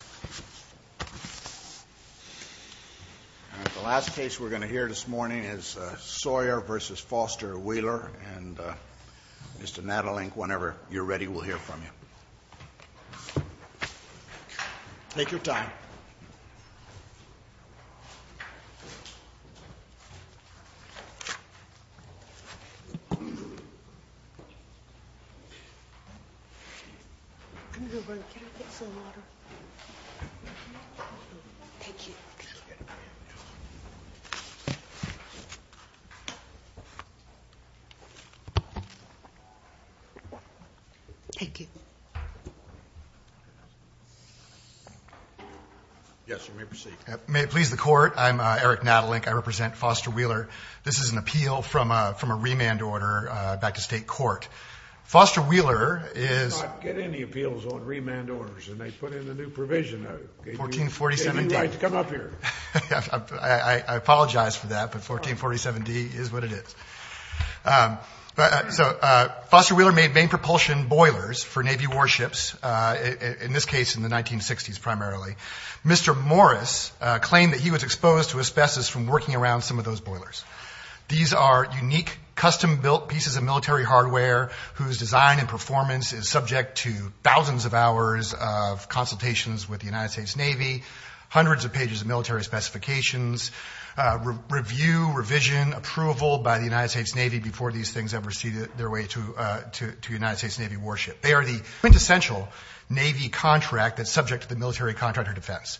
And the last case we're going to hear this morning is Sawyer v. Foster Wheeler, and Mr. Nadelink, whenever you're ready, we'll hear from you. Take your time. I'm going to go get some water. Thank you. Thank you. Yes, you may proceed. May it please the court, I'm Eric Nadelink. I represent Foster Wheeler. This is an appeal from a remand order back to state court. Foster Wheeler is… We do not get any appeals on remand orders, and they put in a new provision. 1447-D. You have every right to come up here. I apologize for that, but 1447-D is what it is. So Foster Wheeler made main propulsion boilers for Navy warships, in this case in the 1960s primarily. Mr. Morris claimed that he was exposed to asbestos from working around some of those boilers. These are unique, custom-built pieces of military hardware whose design and performance is subject to thousands of hours of consultations with the United States Navy, hundreds of pages of military specifications, review, revision, approval by the United States Navy before these things ever see their way to the United States Navy warship. They are the quintessential Navy contract that's subject to the military contractor defense.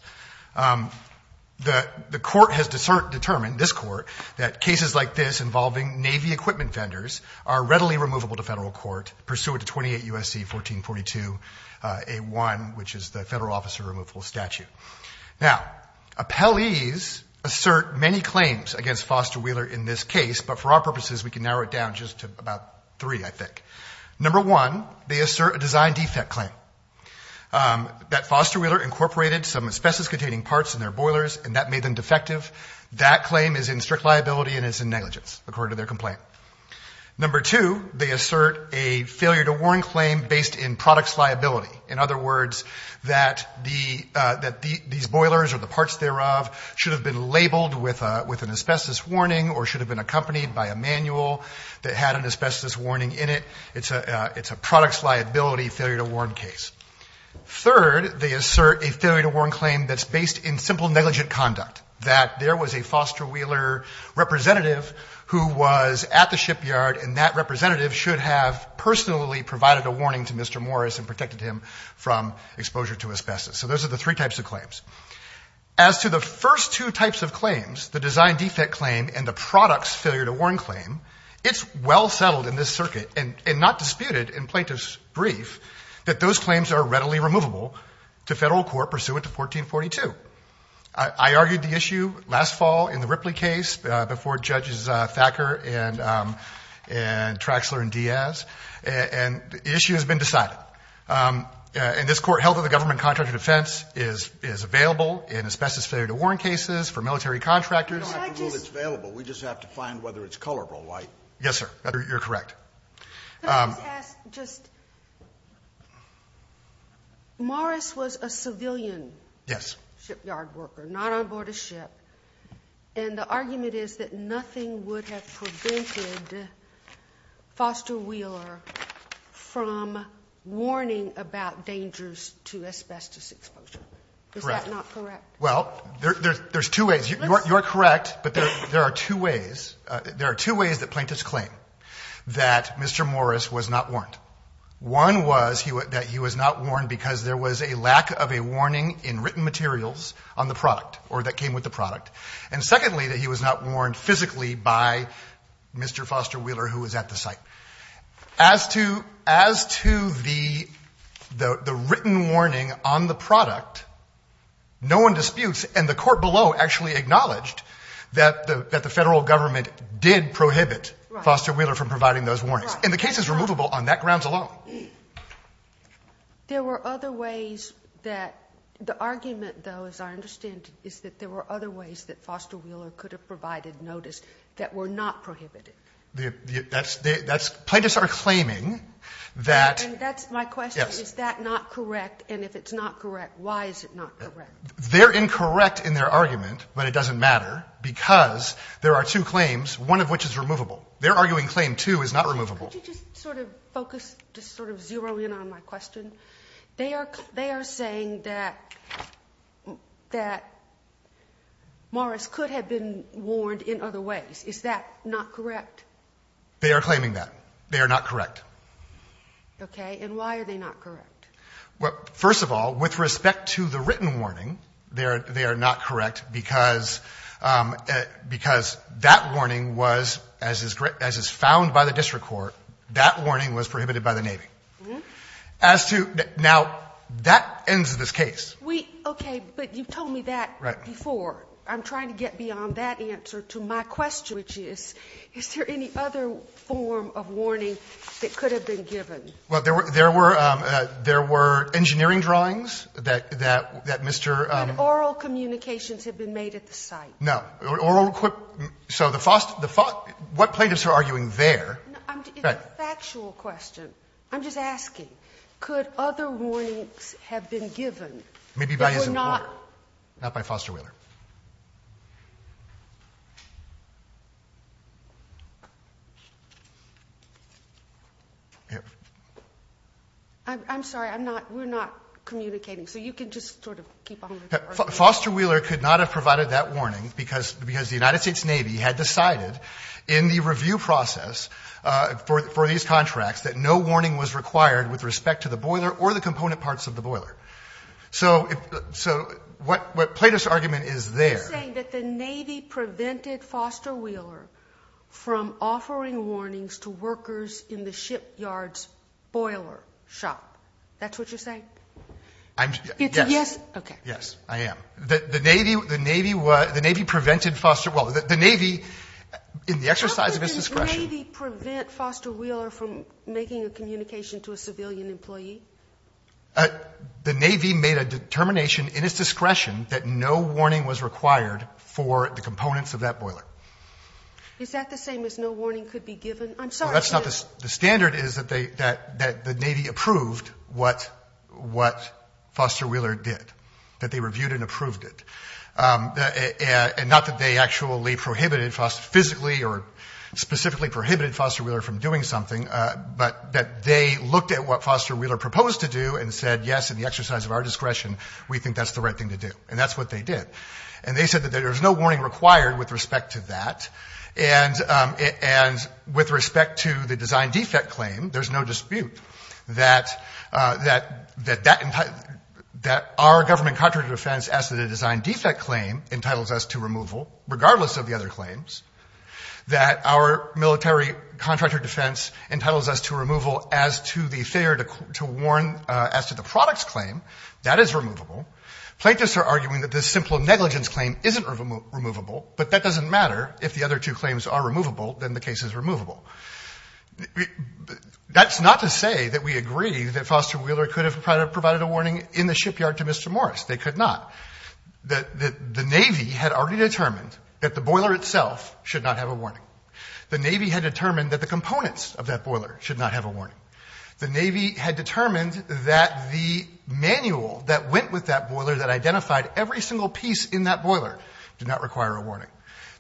The court has determined, this court, that cases like this involving Navy equipment vendors are readily removable to federal court, pursuant to 28 U.S.C. 1442-A1, which is the Federal Officer Removable Statute. Now, appellees assert many claims against Foster Wheeler in this case, but for our purposes, we can narrow it down just to about three, I think. Number one, they assert a design defect claim. That Foster Wheeler incorporated some asbestos-containing parts in their boilers, and that made them defective. That claim is in strict liability and is in negligence, according to their complaint. Number two, they assert a failure-to-warn claim based in products liability. In other words, that these boilers or the parts thereof should have been labeled with an asbestos warning or should have been accompanied by a manual that had an asbestos warning in it. It's a products liability failure-to-warn case. Third, they assert a failure-to-warn claim that's based in simple negligent conduct, that there was a Foster Wheeler representative who was at the shipyard, and that representative should have personally provided a warning to Mr. Morris and protected him from exposure to asbestos. So those are the three types of claims. As to the first two types of claims, the design defect claim and the products failure-to-warn claim, it's well settled in this circuit, and not disputed in plaintiff's brief, that those claims are readily removable to federal court pursuant to 1442. I argued the issue last fall in the Ripley case before Judges Thacker and Traxler and Diaz, and the issue has been decided. In this court, health of the government contract of defense is available in asbestos failure-to-warn cases for military contractors. You don't have to rule it's available. We just have to find whether it's colorable, right? Yes, sir. You're correct. Can I just ask just, Morris was a civilian shipyard worker, not on board a ship, and the argument is that nothing would have prevented Foster Wheeler from warning about dangers to asbestos exposure. Correct. Is that not correct? Well, there's two ways. You're correct, but there are two ways. There are two ways that plaintiffs claim that Mr. Morris was not warned. One was that he was not warned because there was a lack of a warning in written materials on the product, or that came with the product. And secondly, that he was not warned physically by Mr. Foster Wheeler, who was at the site. As to the written warning on the product, no one disputes, and the court below actually acknowledged, that the federal government did prohibit Foster Wheeler from providing those warnings. And the case is removable on that grounds alone. There were other ways that the argument, though, as I understand it, is that there were other ways that Foster Wheeler could have provided notice that were not prohibited. Plaintiffs are claiming that. And that's my question. Yes. Is that not correct? And if it's not correct, why is it not correct? They're incorrect in their argument, but it doesn't matter, because there are two claims, one of which is removable. Their arguing claim, too, is not removable. Could you just sort of focus, just sort of zero in on my question? They are saying that Morris could have been warned in other ways. Is that not correct? They are claiming that. They are not correct. Okay. And why are they not correct? Well, first of all, with respect to the written warning, they are not correct, because that warning was, as is found by the district court, that warning was prohibited by the Navy. Now, that ends this case. Okay. But you told me that before. I'm trying to get beyond that answer to my question, which is, is there any other form of warning that could have been given? Well, there were engineering drawings that Mr. ---- That oral communications had been made at the site. No. So the Foster ---- what plaintiffs are arguing there ---- It's a factual question. I'm just asking. Could other warnings have been given that were not ---- Maybe by his employer, not by Foster Wheeler. I'm sorry. I'm not ---- We're not communicating. So you can just sort of keep on going. Foster Wheeler could not have provided that warning, because the United States Navy had decided in the review process for these contracts that no warning was required with respect to the boiler or the component parts of the boiler. You're saying that the Navy prevented Foster Wheeler from offering warnings to workers in the shipyard's boiler shop. That's what you're saying? I'm ---- Yes. Okay. Yes, I am. The Navy prevented Foster ---- Well, the Navy, in the exercise of its discretion ---- How could the Navy prevent Foster Wheeler from making a communication to a civilian employee? The Navy made a determination in its discretion that no warning was required for the components of that boiler. Is that the same as no warning could be given? I'm sorry to ---- Well, that's not the ---- The standard is that the Navy approved what Foster Wheeler did, that they reviewed and approved it, and not that they actually prohibited Foster physically or specifically prohibited Foster Wheeler from doing something, but that they looked at what Foster Wheeler proposed to do and said, yes, in the exercise of our discretion, we think that's the right thing to do. And that's what they did. And they said that there's no warning required with respect to that. And with respect to the design defect claim, there's no dispute that our government contractor defense as to the design defect claim entitles us to removal, regardless of the other claims, that our military contractor defense entitles us to removal as to the failure to warn as to the product's claim, that is removable. Plaintiffs are arguing that the simple negligence claim isn't removable, but that doesn't matter if the other two claims are removable, then the case is removable. That's not to say that we agree that Foster Wheeler could have provided a warning in the shipyard to Mr. Morris. They could not. The Navy had already determined that the boiler itself should not have a warning. The Navy had determined that the components of that boiler should not have a warning. The Navy had determined that the manual that went with that boiler that identified every single piece in that boiler did not require a warning.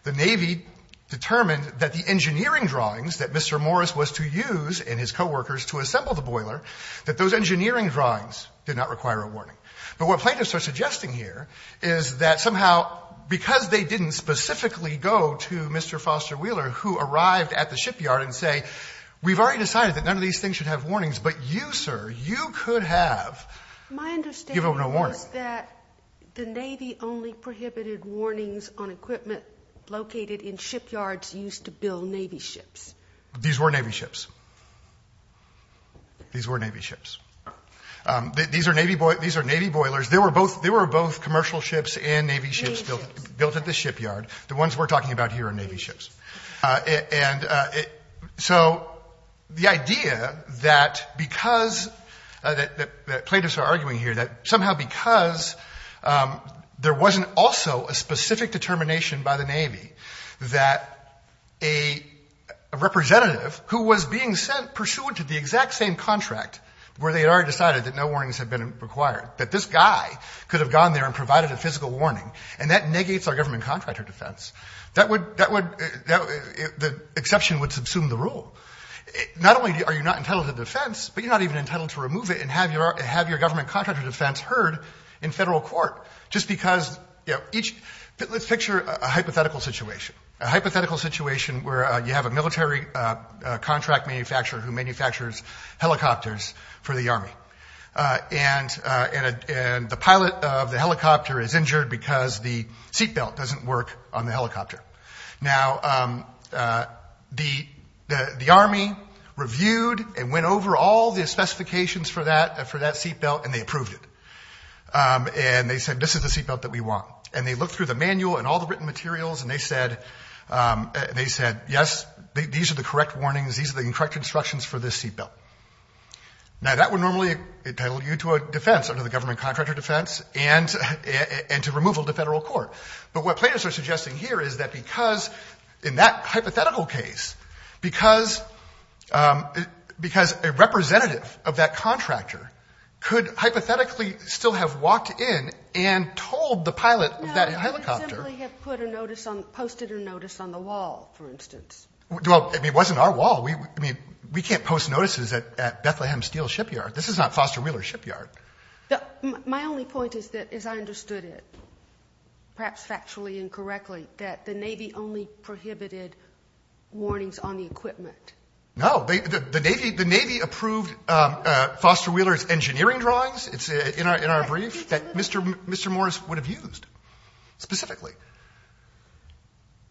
The Navy determined that the engineering drawings that Mr. Morris was to use and his coworkers to assemble the boiler, but what plaintiffs are suggesting here is that somehow because they didn't specifically go to Mr. Foster Wheeler, who arrived at the shipyard and say, we've already decided that none of these things should have warnings, but you, sir, you could have given a warning. My understanding is that the Navy only prohibited warnings on equipment located in shipyards used to build Navy ships. These were Navy ships. These were Navy ships. These are Navy boilers. They were both commercial ships and Navy ships built at the shipyard. The ones we're talking about here are Navy ships. And so the idea that because plaintiffs are arguing here that somehow because there wasn't also a specific determination by the Navy that a representative who was being sent pursuant to the exact same contract where they had already decided that no warnings had been required, that this guy could have gone there and provided a physical warning, and that negates our government contractor defense, the exception would subsume the rule. Not only are you not entitled to defense, but you're not even entitled to remove it and have your government contractor defense heard in federal court just because each – let's picture a hypothetical situation. A hypothetical situation where you have a military contract manufacturer who manufactures helicopters for the Army, and the pilot of the helicopter is injured because the seat belt doesn't work on the helicopter. Now, the Army reviewed and went over all the specifications for that seat belt, and they approved it. And they said, this is the seat belt that we want. And they looked through the manual and all the written materials, and they said, yes, these are the correct warnings. These are the incorrect instructions for this seat belt. Now, that would normally entitle you to a defense under the government contractor defense and to removal to federal court. But what plaintiffs are suggesting here is that because in that hypothetical case, because a representative of that contractor could hypothetically still have walked in and told the pilot of that helicopter. No, they simply have put a notice on – posted a notice on the wall, for instance. Well, I mean, it wasn't our wall. I mean, we can't post notices at Bethlehem Steel Shipyard. This is not Foster Wheeler Shipyard. My only point is that I understood it, perhaps factually incorrectly, that the Navy only prohibited warnings on the equipment. No. The Navy approved Foster Wheeler's engineering drawings. It's in our brief that Mr. Morris would have used specifically.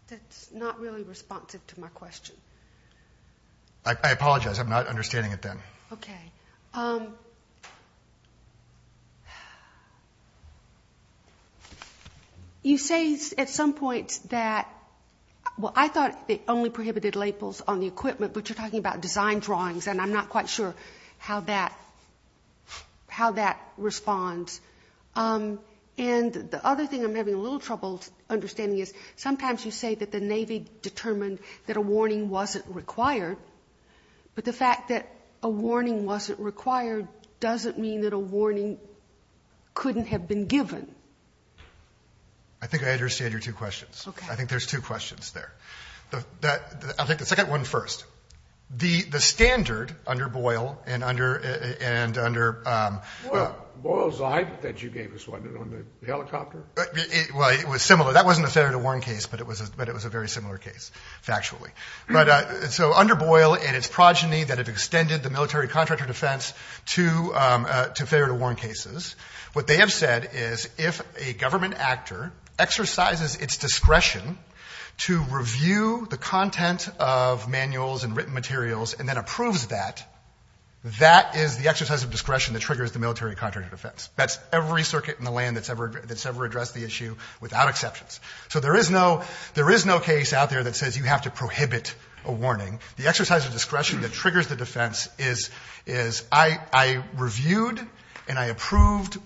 That's not really responsive to my question. I apologize. I'm not understanding it then. Okay. You say at some point that, well, I thought they only prohibited labels on the equipment, but you're talking about design drawings, and I'm not quite sure how that responds. And the other thing I'm having a little trouble understanding is sometimes you say that the Navy determined that a warning wasn't required, but the fact that a warning wasn't required doesn't mean that a warning couldn't have been given. I think I understand your two questions. Okay. I think there's two questions there. I'll take the second one first. The standard under Boyle and under – Boyle's eye that you gave us, wasn't it, on the helicopter? Well, it was similar. That wasn't a standard to warn case, but it was a very similar case, factually. But so under Boyle and its progeny that have extended the military contractor defense to failure to warn cases, what they have said is if a government actor exercises its discretion to review the content of manuals and written materials and then approves that, that is the exercise of discretion that triggers the military contractor defense. That's every circuit in the land that's ever addressed the issue without exceptions. So there is no case out there that says you have to prohibit a warning. The exercise of discretion that triggers the defense is I reviewed and I approved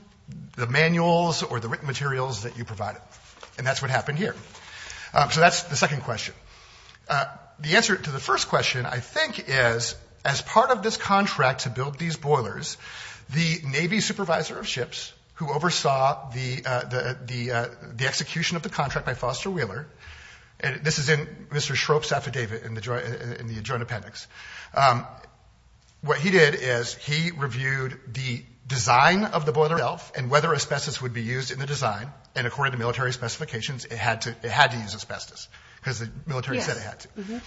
the manuals or the written materials that you provided, and that's what happened here. So that's the second question. The answer to the first question, I think, is as part of this contract to build these boilers, the Navy supervisor of ships who oversaw the execution of the contract by Foster Wheeler, and this is in Mr. Schroep's affidavit in the joint appendix, what he did is he reviewed the design of the boiler itself and whether asbestos would be used in the design, and according to military specifications, it had to use asbestos because the military said it had to.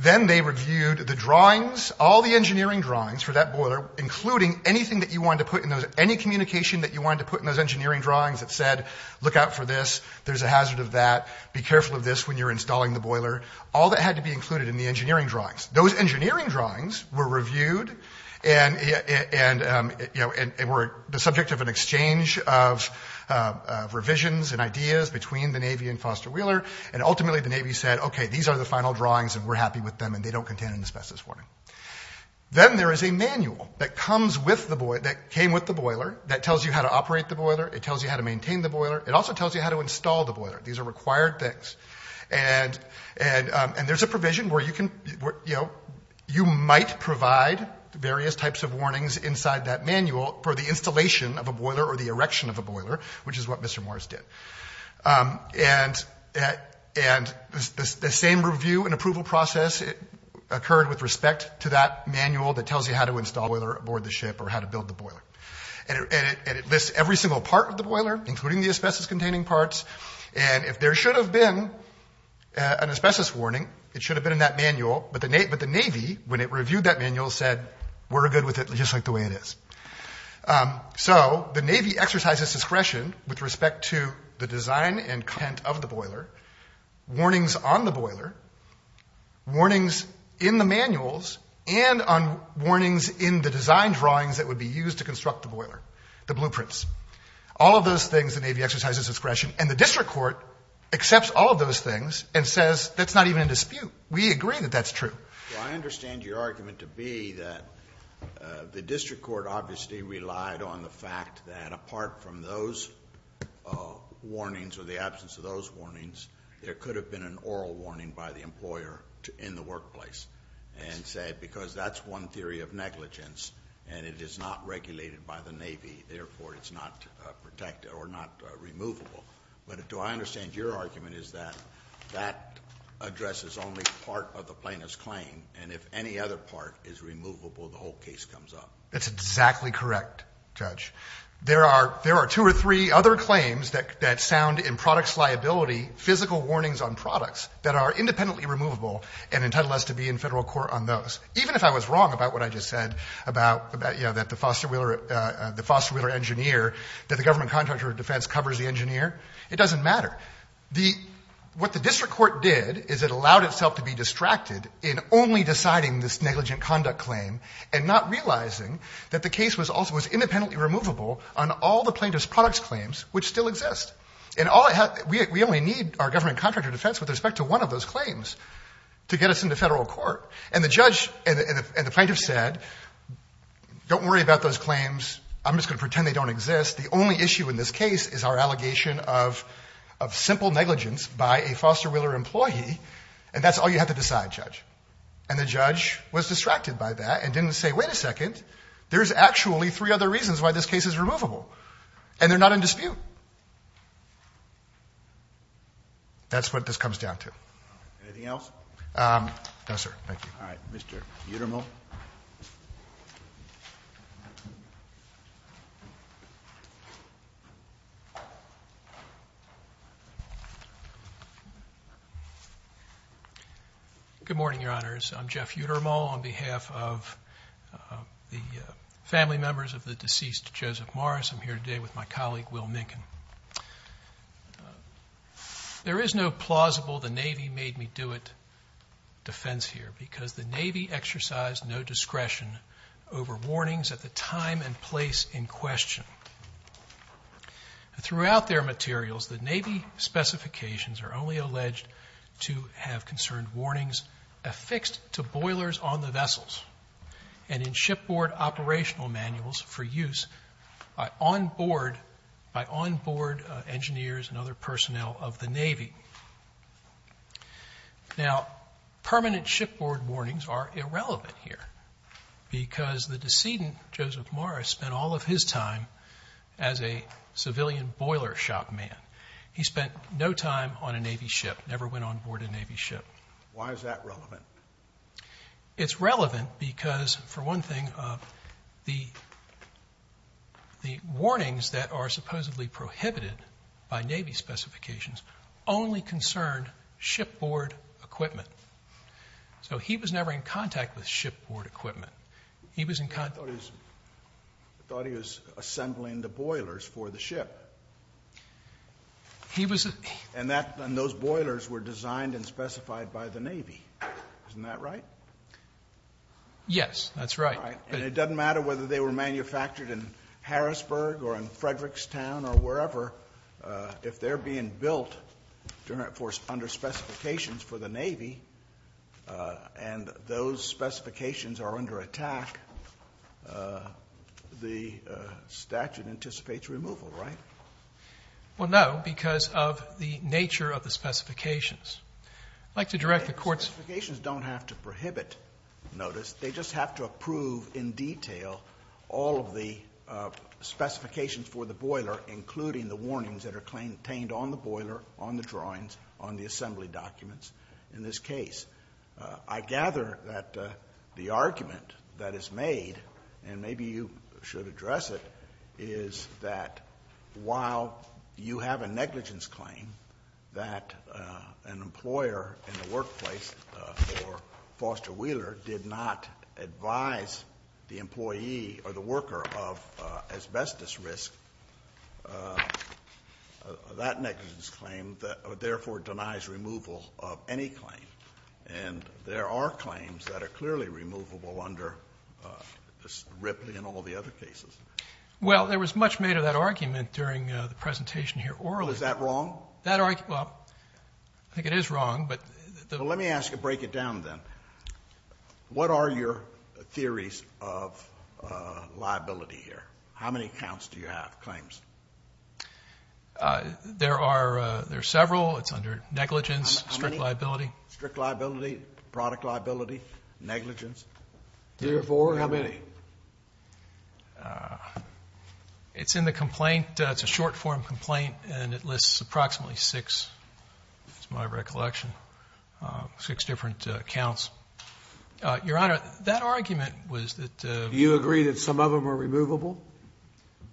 Then they reviewed the drawings, all the engineering drawings for that boiler, including anything that you wanted to put in those, any communication that you wanted to put in those engineering drawings that said look out for this, there's a hazard of that, be careful of this when you're installing the boiler, all that had to be included in the engineering drawings. Those engineering drawings were reviewed and were the subject of an exchange of revisions and ideas between the Navy and Foster Wheeler, and ultimately the Navy said okay, these are the final drawings and we're happy with them and they don't contain an asbestos warning. Then there is a manual that came with the boiler that tells you how to operate the boiler, it tells you how to maintain the boiler, it also tells you how to install the boiler. These are required things. And there's a provision where you might provide various types of warnings inside that manual for the installation of a boiler or the erection of a boiler, which is what Mr. Morris did. And the same review and approval process occurred with respect to that manual that tells you how to install the boiler aboard the ship or how to build the boiler. And it lists every single part of the boiler, including the asbestos-containing parts, and if there should have been an asbestos warning, it should have been in that manual, but the Navy, when it reviewed that manual, said we're good with it just like the way it is. So the Navy exercises discretion with respect to the design and content of the boiler, warnings on the boiler, warnings in the manuals, and on warnings in the design drawings that would be used to construct the boiler, the blueprints. All of those things the Navy exercises discretion, and the district court accepts all of those things and says that's not even a dispute. We agree that that's true. Well, I understand your argument to be that the district court obviously relied on the fact that apart from those warnings or the absence of those warnings, there could have been an oral warning by the employer in the workplace and said because that's one theory of negligence and it is not regulated by the Navy, therefore it's not protected or not removable. But do I understand your argument is that that address is only part of the plaintiff's claim and if any other part is removable, the whole case comes up? That's exactly correct, Judge. There are two or three other claims that sound in products liability, physical warnings on products that are independently removable and entitled us to be in federal court on those. Even if I was wrong about what I just said about, you know, that the Foster Wheeler engineer, that the government contractor of defense covers the engineer, it doesn't matter. What the district court did is it allowed itself to be distracted in only deciding this negligent conduct claim and not realizing that the case was also independently removable on all the plaintiff's products claims which still exist. We only need our government contractor defense with respect to one of those claims to get us into federal court. And the judge and the plaintiff said don't worry about those claims. I'm just going to pretend they don't exist. The only issue in this case is our allegation of simple negligence by a Foster Wheeler employee and that's all you have to decide, Judge. And the judge was distracted by that and didn't say wait a second, there's actually three other reasons why this case is removable. And they're not in dispute. That's what this comes down to. Anything else? No, sir. Thank you. All right, Mr. Uttermole. Good morning, Your Honors. I'm Jeff Uttermole on behalf of the family members of the deceased Joseph Morris. I'm here today with my colleague, Will Minkin. There is no plausible the Navy made me do it defense here because the Navy exercised no discretion over warnings at the time and place in question. Throughout their materials, the Navy specifications are only alleged to have concerned warnings affixed to boilers on the vessels and in shipboard operational manuals for use by onboard engineers and other personnel of the Navy. Now, permanent shipboard warnings are irrelevant here because the decedent Joseph Morris spent all of his time as a civilian boiler shop man. He spent no time on a Navy ship, never went onboard a Navy ship. Why is that relevant? It's relevant because, for one thing, the warnings that are supposedly prohibited by Navy specifications only concerned shipboard equipment. So he was never in contact with shipboard equipment. He was in contact with shipboard equipment. And those boilers were designed and specified by the Navy. Isn't that right? Yes, that's right. And it doesn't matter whether they were manufactured in Harrisburg or in Frederictstown or wherever. If they're being built under specifications for the Navy and those specifications are under attack, the statute anticipates removal, right? Well, no, because of the nature of the specifications. I'd like to direct the Court's— The specifications don't have to prohibit notice. They just have to approve in detail all of the specifications for the boiler, including the warnings that are contained on the boiler, on the drawings, on the assembly documents in this case. I gather that the argument that is made, and maybe you should address it, is that while you have a negligence claim that an employer in the workplace for Foster Wheeler did not advise the employee or the worker of asbestos risk, that negligence claim therefore denies removal of any claim. And there are claims that are clearly removable under Ripley and all the other cases. Well, there was much made of that argument during the presentation here orally. Is that wrong? Well, I think it is wrong, but the— Well, let me ask you to break it down, then. What are your theories of liability here? How many counts do you have, claims? There are several. It's under negligence, strict liability. Strict liability, product liability, negligence. Three or four? How many? It's in the complaint. It's a short-form complaint, and it lists approximately six. That's my recollection, six different counts. Your Honor, that argument was that— Do you agree that some of them are removable?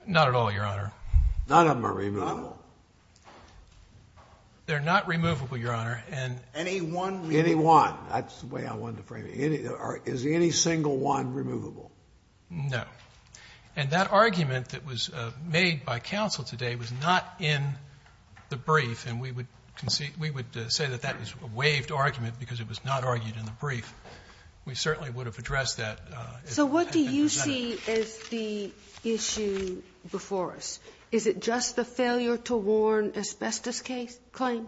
Not at all, Your Honor. None of them are removable? They're not removable, Your Honor. Any one? Any one. That's the way I wanted to frame it. Is any single one removable? No. And that argument that was made by counsel today was not in the brief, and we would say that that was a waived argument because it was not argued in the brief. We certainly would have addressed that. So what do you see as the issue before us? Is it just the failure to warn asbestos claim,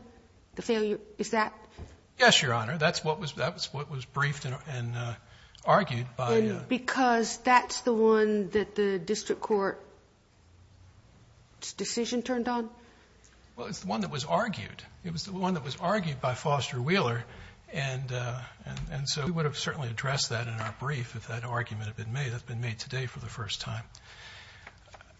the failure? Is that? Yes, Your Honor. That's what was briefed and argued by— And because that's the one that the district court's decision turned on? Well, it's the one that was argued. It was the one that was argued by Foster Wheeler, and so we would have certainly addressed that in our brief if that argument had been made. That's been made today for the first time.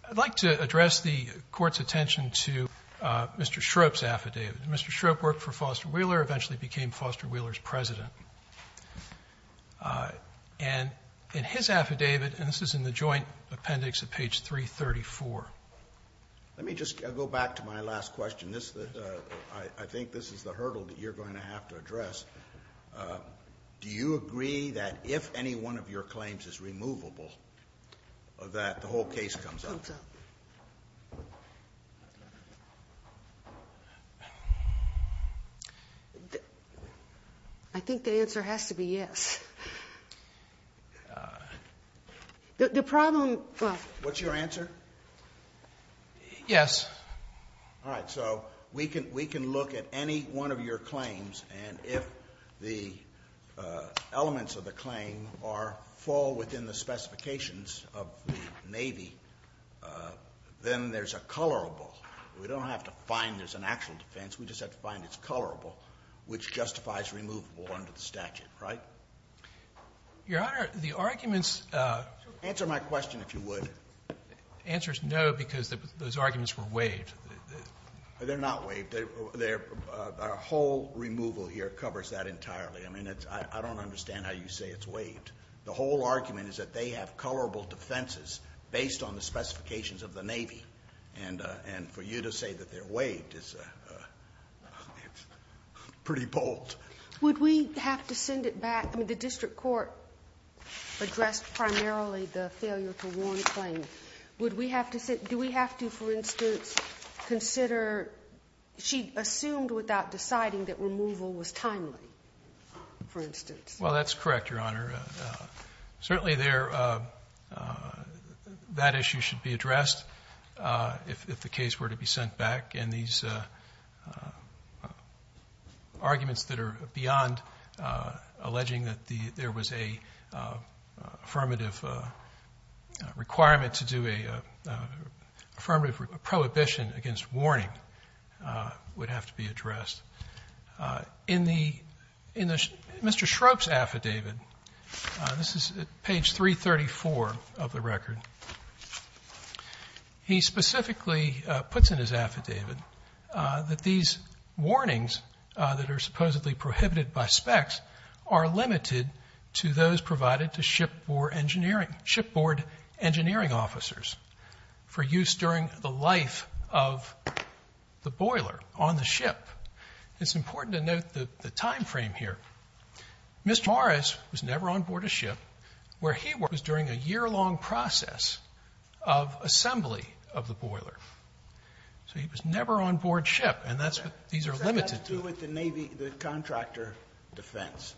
I'd like to address the Court's attention to Mr. Shrope's affidavit. Mr. Shrope worked for Foster Wheeler, eventually became Foster Wheeler's president. And in his affidavit, and this is in the joint appendix at page 334— Let me just go back to my last question. I think this is the hurdle that you're going to have to address. Do you agree that if any one of your claims is removable, that the whole case comes up? Comes up. I think the answer has to be yes. The problem— What's your answer? Yes. All right, so we can look at any one of your claims, and if the elements of the claim fall within the specifications of the Navy, then there's a colorable. We don't have to find there's an actual defense. We just have to find it's colorable, which justifies removable under the statute, right? Your Honor, the arguments— Answer my question, if you would. The answer is no, because those arguments were waived. They're not waived. Our whole removal here covers that entirely. I mean, I don't understand how you say it's waived. The whole argument is that they have colorable defenses based on the specifications of the Navy, and for you to say that they're waived is pretty bold. Would we have to send it back? I mean, the district court addressed primarily the failure to warn the claim. Do we have to, for instance, consider—she assumed without deciding that removal was timely, for instance. Well, that's correct, Your Honor. Certainly that issue should be addressed if the case were to be sent back, and these arguments that are beyond alleging that there was an affirmative requirement to do an affirmative prohibition against warning would have to be addressed. In Mr. Schroep's affidavit, this is page 334 of the record, he specifically puts in his affidavit that these warnings that are supposedly prohibited by specs are limited to those provided to shipboard engineering officers for use during the life of the boiler on the ship. It's important to note the timeframe here. Mr. Morris was never on board a ship where he was during a year-long process of assembly of the boiler. So he was never on board ship, and that's what these are limited to. It has to do with the Navy, the contractor defense.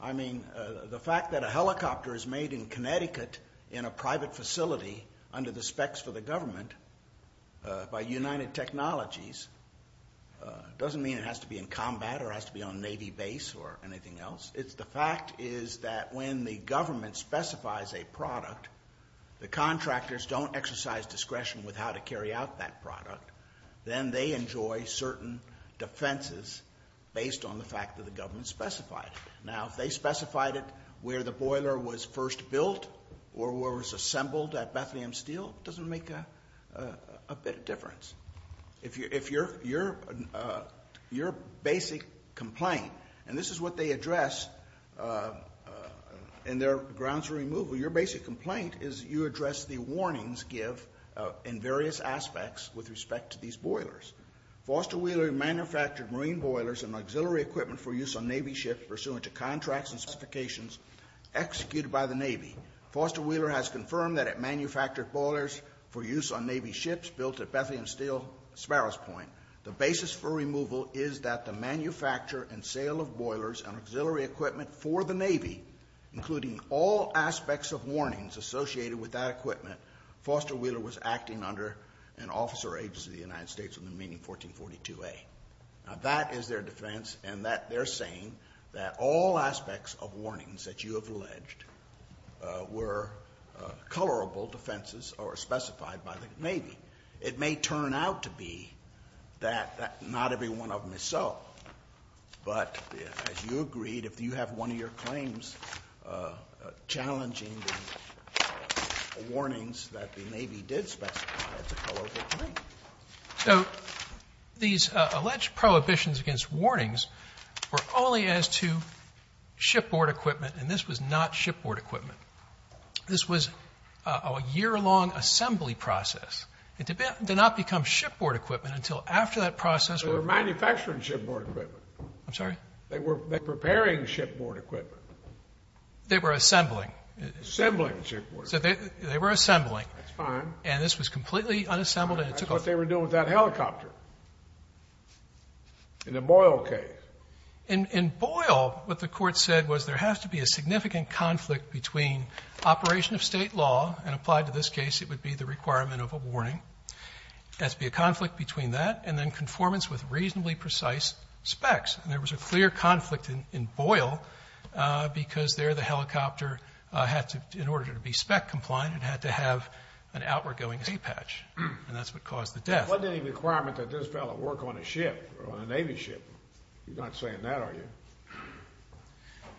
I mean, the fact that a helicopter is made in Connecticut in a private facility under the specs for the government by United Technologies doesn't mean it has to be in combat or has to be on Navy base or anything else. It's the fact is that when the government specifies a product, the contractors don't exercise discretion with how to carry out that product. Then they enjoy certain defenses based on the fact that the government specified it. Now, if they specified it where the boiler was first built or where it was assembled at Bethlehem Steel, it doesn't make a bit of difference. If your basic complaint, and this is what they address in their grounds removal, your basic complaint is you address the warnings give in various aspects with respect to these boilers. Foster Wheeler manufactured marine boilers and auxiliary equipment for use on Navy ships pursuant to contracts and specifications executed by the Navy. Foster Wheeler has confirmed that it manufactured boilers for use on Navy ships built at Bethlehem Steel Sparrows Point. The basis for removal is that the manufacture and sale of boilers and auxiliary equipment for the Navy, including all aspects of warnings associated with that equipment, Foster Wheeler was acting under an officer agency of the United States in the meeting 1442A. Now, that is their defense, and they're saying that all aspects of warnings that you have alleged were colorable defenses or specified by the Navy. It may turn out to be that not every one of them is so, but as you agreed, if you have one of your claims challenging the warnings that the Navy did specify, it's a colorable claim. So these alleged prohibitions against warnings were only as to shipboard equipment, and this was not shipboard equipment. This was a year-long assembly process. It did not become shipboard equipment until after that process. They were manufacturing shipboard equipment. I'm sorry? They were preparing shipboard equipment. They were assembling. Assembling shipboard equipment. They were assembling. That's fine. And this was completely unassembled, and it took off. That's what they were doing with that helicopter in the Boyle case. In Boyle, what the court said was there has to be a significant conflict between operation of state law, and applied to this case, it would be the requirement of a warning. There has to be a conflict between that and then conformance with reasonably precise specs. And there was a clear conflict in Boyle because there the helicopter had to, in order to be spec compliant, it had to have an outward-going hay patch, and that's what caused the death. There wasn't any requirement that this fellow work on a ship, on a Navy ship. You're not saying that, are you?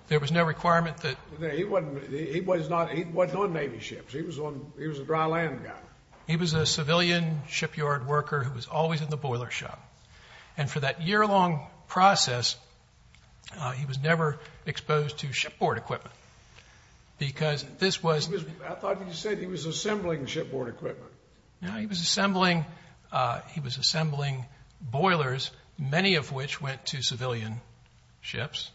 There was no requirement that. He wasn't on Navy ships. He was a dry land guy. He was a civilian shipyard worker who was always in the boiler shop. And for that year-long process, he was never exposed to shipboard equipment because this was... I thought you said he was assembling shipboard equipment. No, he was assembling boilers, many of which went to civilian ships.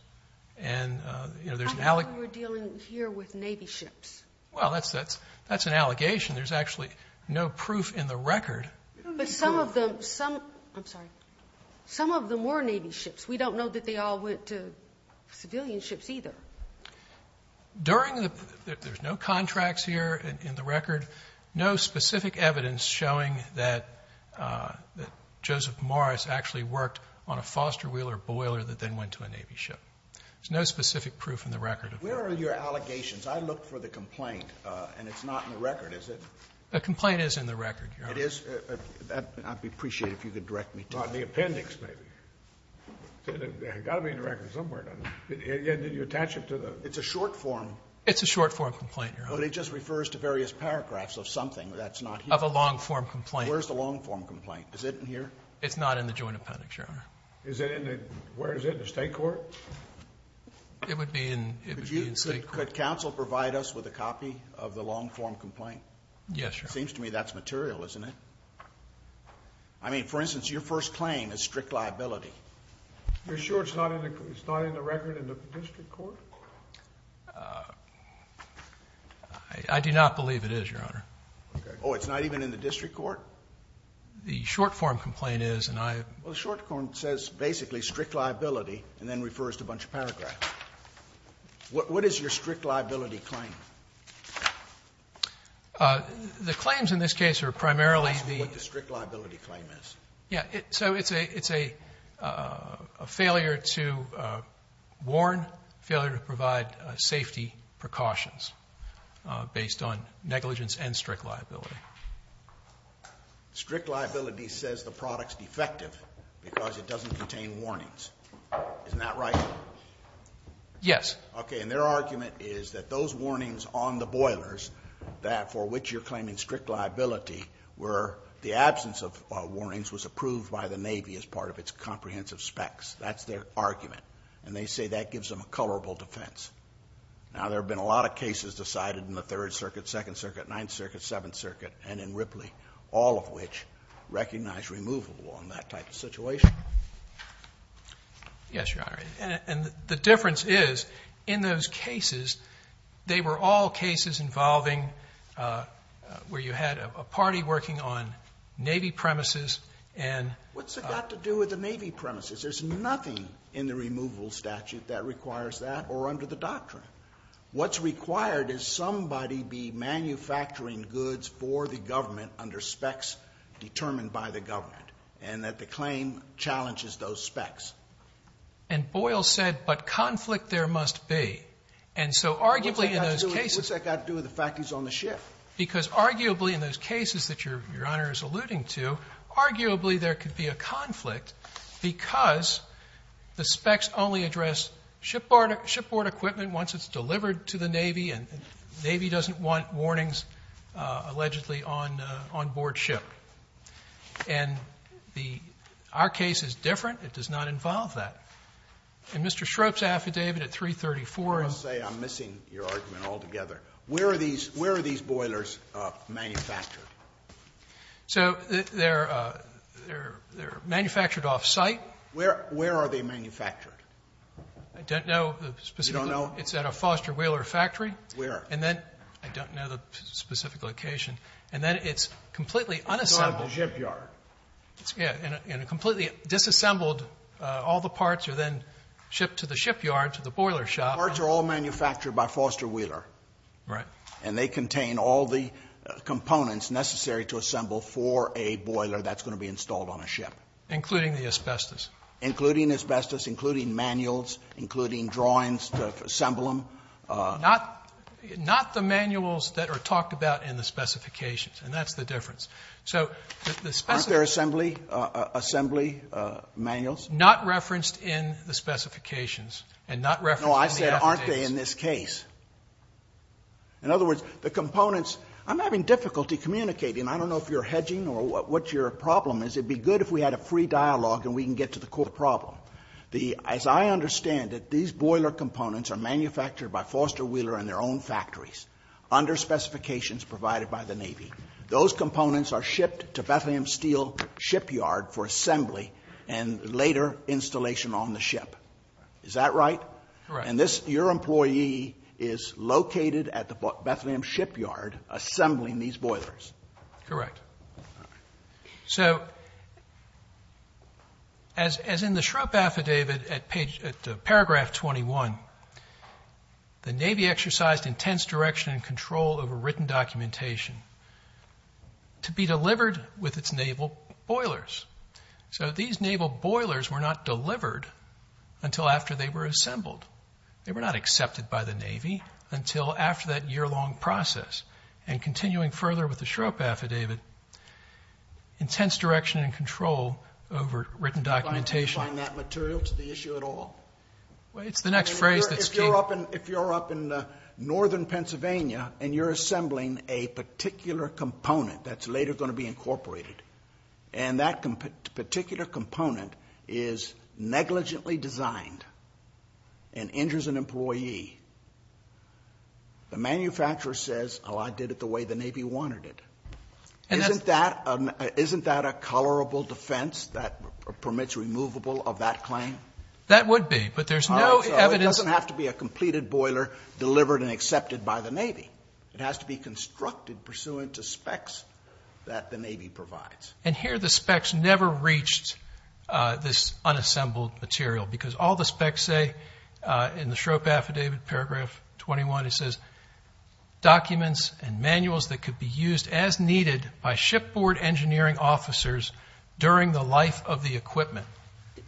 And there's an... I thought you were dealing here with Navy ships. Well, that's an allegation. There's actually no proof in the record. But some of them... I'm sorry. Some of them were Navy ships. We don't know that they all went to civilian ships either. During the... there's no contracts here in the record. No specific evidence showing that Joseph Morris actually worked on a Foster Wheeler boiler that then went to a Navy ship. There's no specific proof in the record. Where are your allegations? I looked for the complaint, and it's not in the record, is it? The complaint is in the record, Your Honor. It is? I'd be appreciative if you could direct me to it. On the appendix, maybe. It's got to be in the record somewhere. Did you attach it to the... It's a short-form... It's a short-form complaint, Your Honor. But it just refers to various paragraphs of something that's not here. Of a long-form complaint. Where's the long-form complaint? Is it in here? It's not in the joint appendix, Your Honor. Is it in the... where is it? In the state court? It would be in... Could you... could counsel provide us with a copy of the long-form complaint? Yes, Your Honor. It seems to me that's material, isn't it? I mean, for instance, your first claim is strict liability. You're sure it's not in the... it's not in the record in the district court? I do not believe it is, Your Honor. Okay. Oh, it's not even in the district court? The short-form complaint is, and I... Well, the short-form says basically strict liability and then refers to a bunch of paragraphs. What is your strict liability claim? The claims in this case are primarily the... Tell us what the strict liability claim is. Yeah. So it's a failure to warn, failure to provide safety precautions based on negligence and strict liability. Strict liability says the product's defective because it doesn't contain warnings. Isn't that right? Yes. Okay. And their argument is that those warnings on the boilers that for which you're claiming strict liability were the absence of warnings was approved by the Navy as part of its comprehensive specs. That's their argument. And they say that gives them a colorable defense. Now, there have been a lot of cases decided in the Third Circuit, Second Circuit, Ninth Circuit, Seventh Circuit, and in Ripley, all of which recognize removable on that type of situation. Yes, Your Honor. And the difference is in those cases, they were all cases involving where you had a party working on Navy premises and... What's it got to do with the Navy premises? There's nothing in the removal statute that requires that or under the doctrine. What's required is somebody be manufacturing goods for the government under specs determined by the government and that the claim challenges those specs. And Boyle said, but conflict there must be. And so arguably in those cases... What's that got to do with the fact he's on the ship? Because arguably in those cases that Your Honor is alluding to, arguably there could be a conflict because the specs only address shipboard equipment once it's delivered to the Navy and the Navy doesn't want warnings allegedly on board ship. And the... Our case is different. It does not involve that. In Mr. Schroep's affidavit at 334... I must say I'm missing your argument altogether. Where are these... Where are these boilers manufactured? So they're... They're... They're manufactured off-site. Where... Where are they manufactured? I don't know the specific... You don't know? It's at a Foster Wheeler factory. Where? And then... I don't know the specific location. And then it's completely unassembled. It's not at the shipyard. Yeah. And a completely disassembled... All the parts are then shipped to the shipyard, to the boiler shop. The parts are all manufactured by Foster Wheeler. Right. And they contain all the components necessary to assemble for a boiler that's going to be installed on a ship. Including the asbestos. Including asbestos, including manuals, including drawings to assemble them. Not the manuals that are talked about in the specifications. And that's the difference. So the specifications... Aren't there assembly manuals? Not referenced in the specifications. And not referenced in the affidavits. No, I said aren't they in this case? In other words, the components... I'm having difficulty communicating. I don't know if you're hedging or what your problem is. It would be good if we had a free dialogue and we can get to the core of the problem. As I understand it, these boiler components are manufactured by Foster Wheeler and their own factories. Under specifications provided by the Navy. Those components are shipped to Bethlehem Steel shipyard for assembly and later installation on the ship. Is that right? Correct. And your employee is located at the Bethlehem shipyard assembling these boilers. Correct. So as in the Shrupp Affidavit at paragraph 21, the Navy exercised intense direction and control over written documentation to be delivered with its naval boilers. So these naval boilers were not delivered until after they were assembled. They were not accepted by the Navy until after that year-long process. And continuing further with the Shrupp Affidavit, intense direction and control over written documentation. Do you find that material to the issue at all? It's the next phrase that's key. If you're up in northern Pennsylvania and you're assembling a particular component that's later going to be incorporated and that particular component is negligently designed and injures an employee, the manufacturer says, oh, I did it the way the Navy wanted it. Isn't that a colorable defense that permits removable of that claim? That would be. But there's no evidence. So it doesn't have to be a completed boiler delivered and accepted by the Navy. It has to be constructed pursuant to specs that the Navy provides. And here the specs never reached this unassembled material because all the specs say in the Shrupp Affidavit, Paragraph 21, it says, documents and manuals that could be used as needed by shipboard engineering officers during the life of the equipment.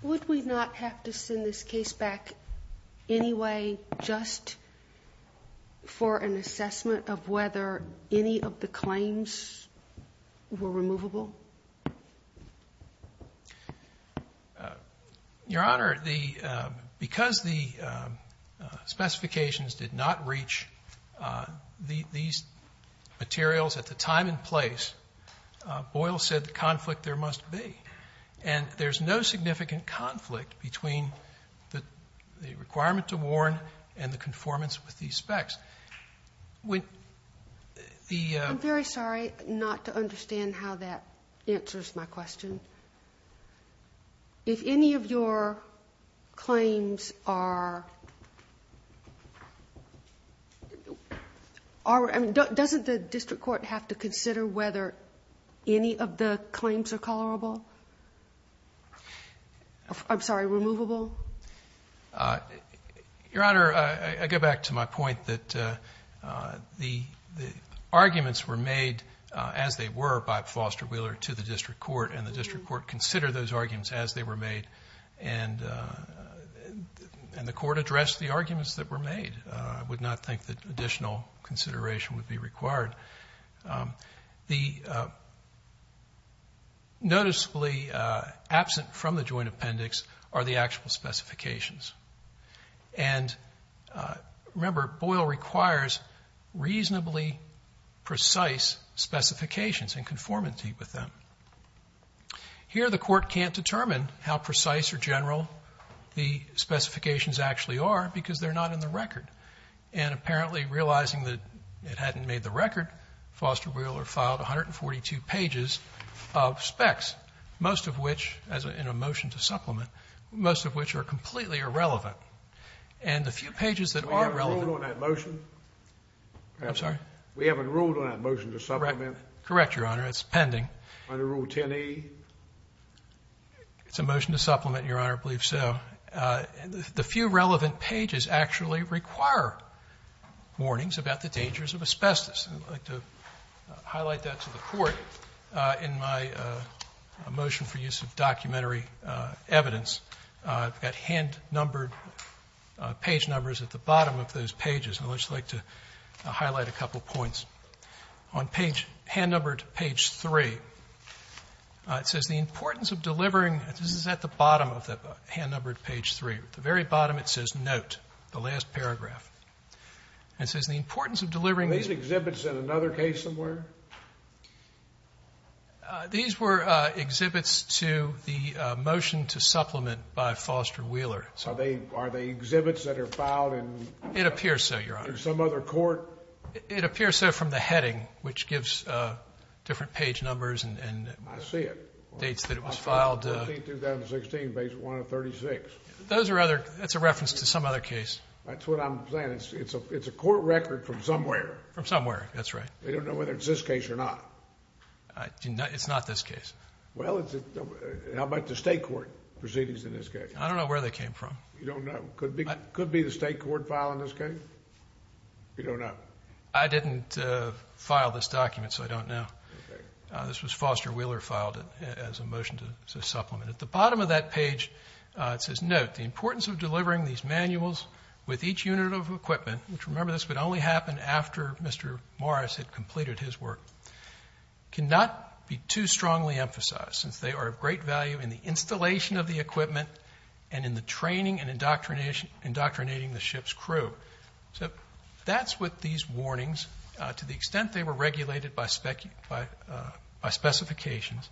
Would we not have to send this case back anyway just for an assessment of whether any of the claims were removable? Your Honor, because the specifications did not reach these materials at the time and place, Boyle said the conflict there must be. And there's no significant conflict between the requirement to warn and the conformance with these specs. I'm very sorry not to understand how that answers my question. If any of your claims are, doesn't the district court have to consider whether any of the claims are colorable? I'm sorry, removable? Your Honor, I go back to my point that the arguments were made as they were by Foster Wheeler to the district court and the district court considered those arguments as they were made and the court addressed the arguments that were made. I would not think that additional consideration would be required. The noticeably absent from the joint appendix are the actual specifications. And remember, Boyle requires reasonably precise specifications in conformity with them. Here the court can't determine how precise or general the specifications actually are because they're not in the record. And apparently realizing that it hadn't made the record, Foster Wheeler filed 142 pages of specs, most of which, in a motion to supplement, most of which are completely irrelevant. And the few pages that are relevant— We haven't ruled on that motion. I'm sorry? We haven't ruled on that motion to supplement. Correct, Your Honor, it's pending. Under Rule 10E? It's a motion to supplement, Your Honor, I believe so. The few relevant pages actually require warnings about the dangers of asbestos. I'd like to highlight that to the Court in my motion for use of documentary evidence. I've got hand-numbered page numbers at the bottom of those pages. I'd just like to highlight a couple points. On page—hand-numbered page 3, it says, the importance of delivering—this is at the bottom of the hand-numbered page 3. At the very bottom it says, note, the last paragraph. It says, the importance of delivering— Are these exhibits in another case somewhere? These were exhibits to the motion to supplement by Foster Wheeler. Are they exhibits that are filed in— It appears so, Your Honor. In some other court? It appears so from the heading, which gives different page numbers. I see it. Dates that it was filed. 14, 2016, page 136. Those are other—that's a reference to some other case. That's what I'm saying. It's a court record from somewhere. From somewhere, that's right. I don't know whether it's this case or not. It's not this case. Well, how about the state court proceedings in this case? I don't know where they came from. You don't know? Could it be the state court file in this case? You don't know? I didn't file this document, so I don't know. This was Foster Wheeler filed as a motion to supplement. At the bottom of that page, it says, Note, the importance of delivering these manuals with each unit of equipment, which, remember, this would only happen after Mr. Morris had completed his work, cannot be too strongly emphasized, since they are of great value in the installation of the equipment and in the training and indoctrinating the ship's crew. So that's what these warnings, to the extent they were regulated by specifications,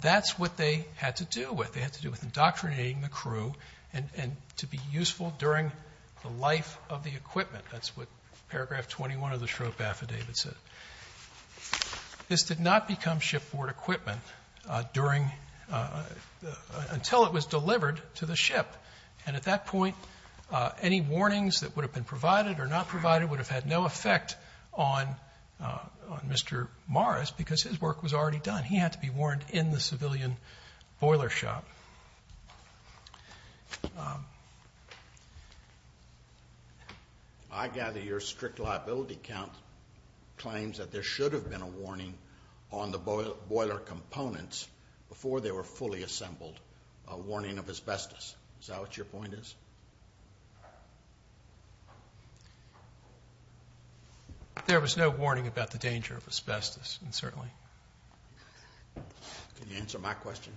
that's what they had to do with. They had to do with indoctrinating the crew and to be useful during the life of the equipment. That's what paragraph 21 of the Shrove Affidavit said. This did not become shipboard equipment until it was delivered to the ship. And at that point, any warnings that would have been provided or not provided would have had no effect on Mr. Morris because his work was already done. He had to be warned in the civilian boiler shop. I gather your strict liability count claims that there should have been a warning on the boiler components before they were fully assembled, a warning of asbestos. Is that what your point is? There was no warning about the danger of asbestos, certainly. Can you answer my question?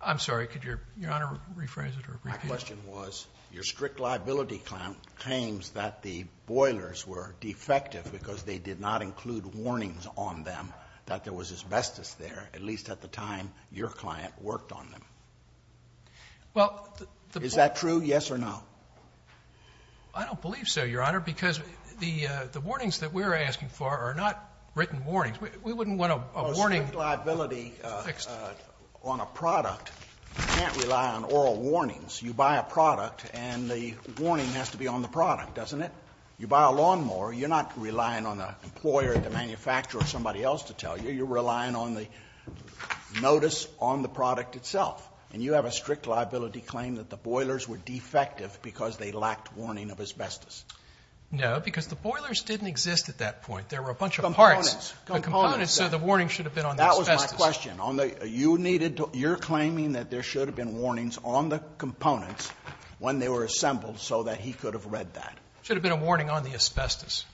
I'm sorry, could Your Honor rephrase it or repeat it? My question was, your strict liability count claims that the boilers were defective because they did not include warnings on them that there was asbestos there, at least at the time your client worked on them. Is that true, yes or no? I don't believe so, Your Honor, because the warnings that we're asking for are not written warnings. We wouldn't want a warning fixed. A strict liability on a product can't rely on oral warnings. You buy a product and the warning has to be on the product, doesn't it? You buy a lawnmower, you're not relying on the employer, the manufacturer or somebody else to tell you. You're relying on the notice on the product itself, and you have a strict liability claim that the boilers were defective because they lacked warning of asbestos. No, because the boilers didn't exist at that point. There were a bunch of parts. Components. Components. So the warning should have been on the asbestos. That was my question. You're claiming that there should have been warnings on the components when they were assembled so that he could have read that. There should have been a warning on the asbestos.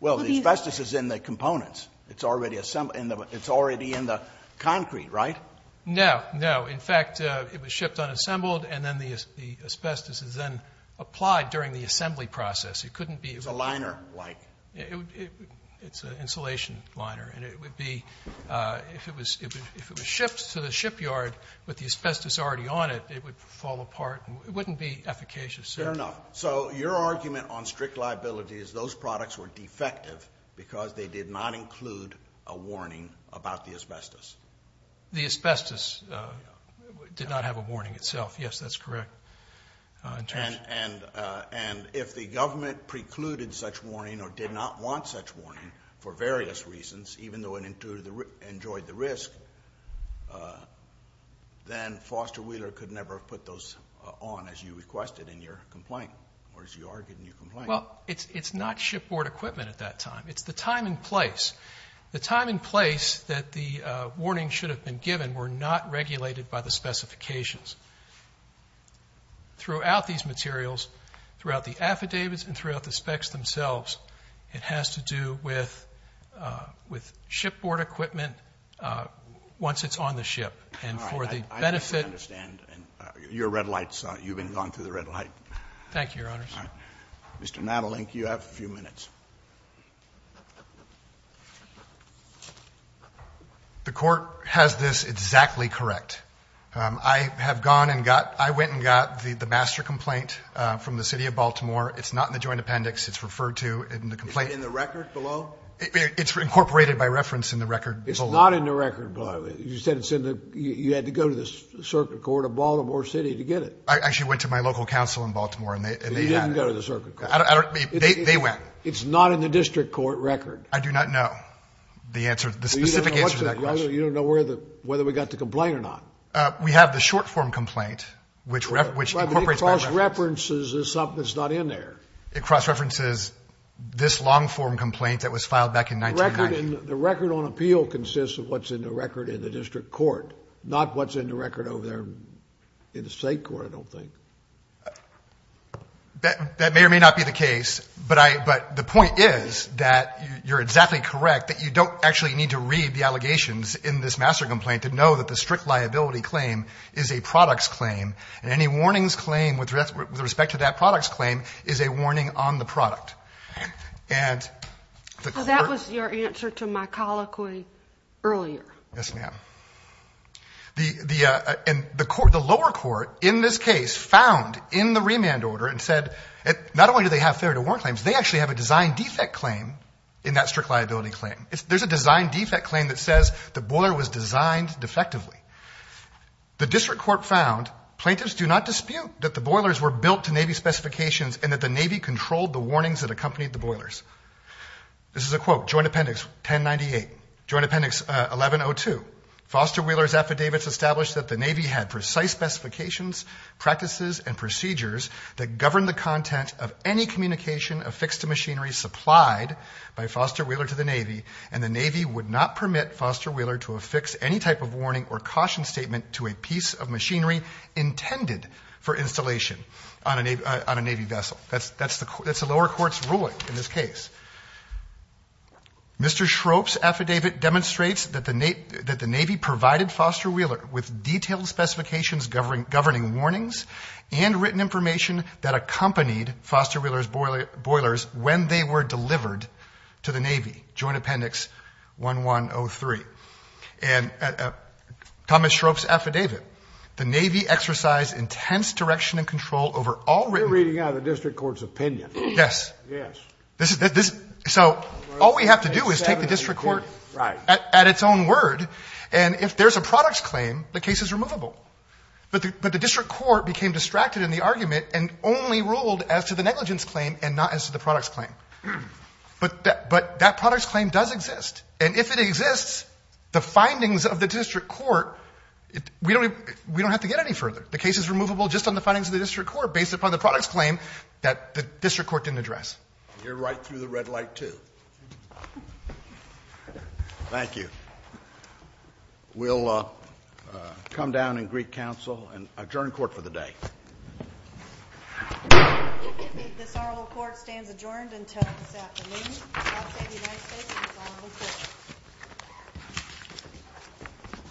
Well, the asbestos is in the components. It's already assembled. It's already in the concrete, right? No. No. In fact, it was shipped unassembled, and then the asbestos is then applied during the assembly process. It couldn't be. It's a liner-like. It's an insulation liner. And it would be, if it was shipped to the shipyard with the asbestos already on it, it would fall apart. It wouldn't be efficacious. Fair enough. So your argument on strict liability is those products were defective because they did not include a warning about the asbestos. The asbestos did not have a warning itself. Yes, that's correct. And if the government precluded such warning or did not want such warning for various reasons, even though it enjoyed the risk, then Foster Wheeler could never have put those on as you requested in your complaint or as you argued in your complaint. Well, it's not shipboard equipment at that time. It's the time and place. The time and place that the warning should have been given were not regulated by the specifications. Throughout these materials, throughout the affidavits and throughout the specs themselves, it has to do with shipboard equipment once it's on the ship. And for the benefit of the ship. All right. I think we understand. Your red light's on. You've been going through the red light. Thank you, Your Honors. All right. Mr. Nadelink, you have a few minutes. The court has this exactly correct. I have gone and got, I went and got the master complaint from the city of Baltimore. It's not in the joint appendix. It's referred to in the complaint. In the record below? It's incorporated by reference in the record below. It's not in the record below. You said it's in the, you had to go to the circuit court of Baltimore City to get it. I actually went to my local council in Baltimore and they had it. They went. It's not in the district court record. I do not know the answer, the specific answer to that question. You don't know whether we got the complaint or not? We have the short form complaint, which incorporates by reference. But it cross-references something that's not in there. It cross-references this long form complaint that was filed back in 1990. The record on appeal consists of what's in the record in the district court, not what's in the record over there in the state court, I don't think. That may or may not be the case. But the point is that you're exactly correct, that you don't actually need to read the allegations in this master complaint to know that the strict liability claim is a product's claim. Any warnings claim with respect to that product's claim is a warning on the product. That was your answer to my colloquy earlier. Yes, ma'am. The lower court in this case found in the remand order and said, not only do they have failure to warn claims, they actually have a design defect claim in that strict liability claim. There's a design defect claim that says the boiler was designed defectively. The district court found, plaintiffs do not dispute that the boilers were built to Navy specifications and that the Navy controlled the warnings that accompanied the boilers. This is a quote, Joint Appendix 1098, Joint Appendix 1102, Foster Wheeler's affidavits established that the Navy had precise specifications, practices and procedures that govern the content of any communication affixed to machinery supplied by Foster Wheeler to the Navy, and the Navy would not permit Foster Wheeler to affix any type of warning or caution statement to a piece of machinery intended for installation on a Navy vessel. That's the lower court's ruling in this case. Mr. Schroep's affidavit demonstrates that the Navy provided Foster Wheeler with detailed specifications governing warnings and written information that accompanied Foster Wheeler's boilers when they were delivered to the Navy, Joint Appendix 1103. And Thomas Schroep's affidavit, the Navy exercised intense direction and control over all written... You're reading out of the district court's opinion. Yes. Yes. So all we have to do is take the district court at its own word, and if there's a products claim, the case is removable. But the district court became distracted in the argument and only ruled as to the negligence claim and not as to the products claim. But that products claim does exist, and if it exists, the findings of the district court, we don't have to get any further. The case is removable just on the findings of the district court based upon the products claim that the district court didn't address. You're right through the red light, too. Thank you. We'll come down in Greek Council and adjourn court for the day. This oral court stands adjourned until this afternoon. God save the United States and this oral court.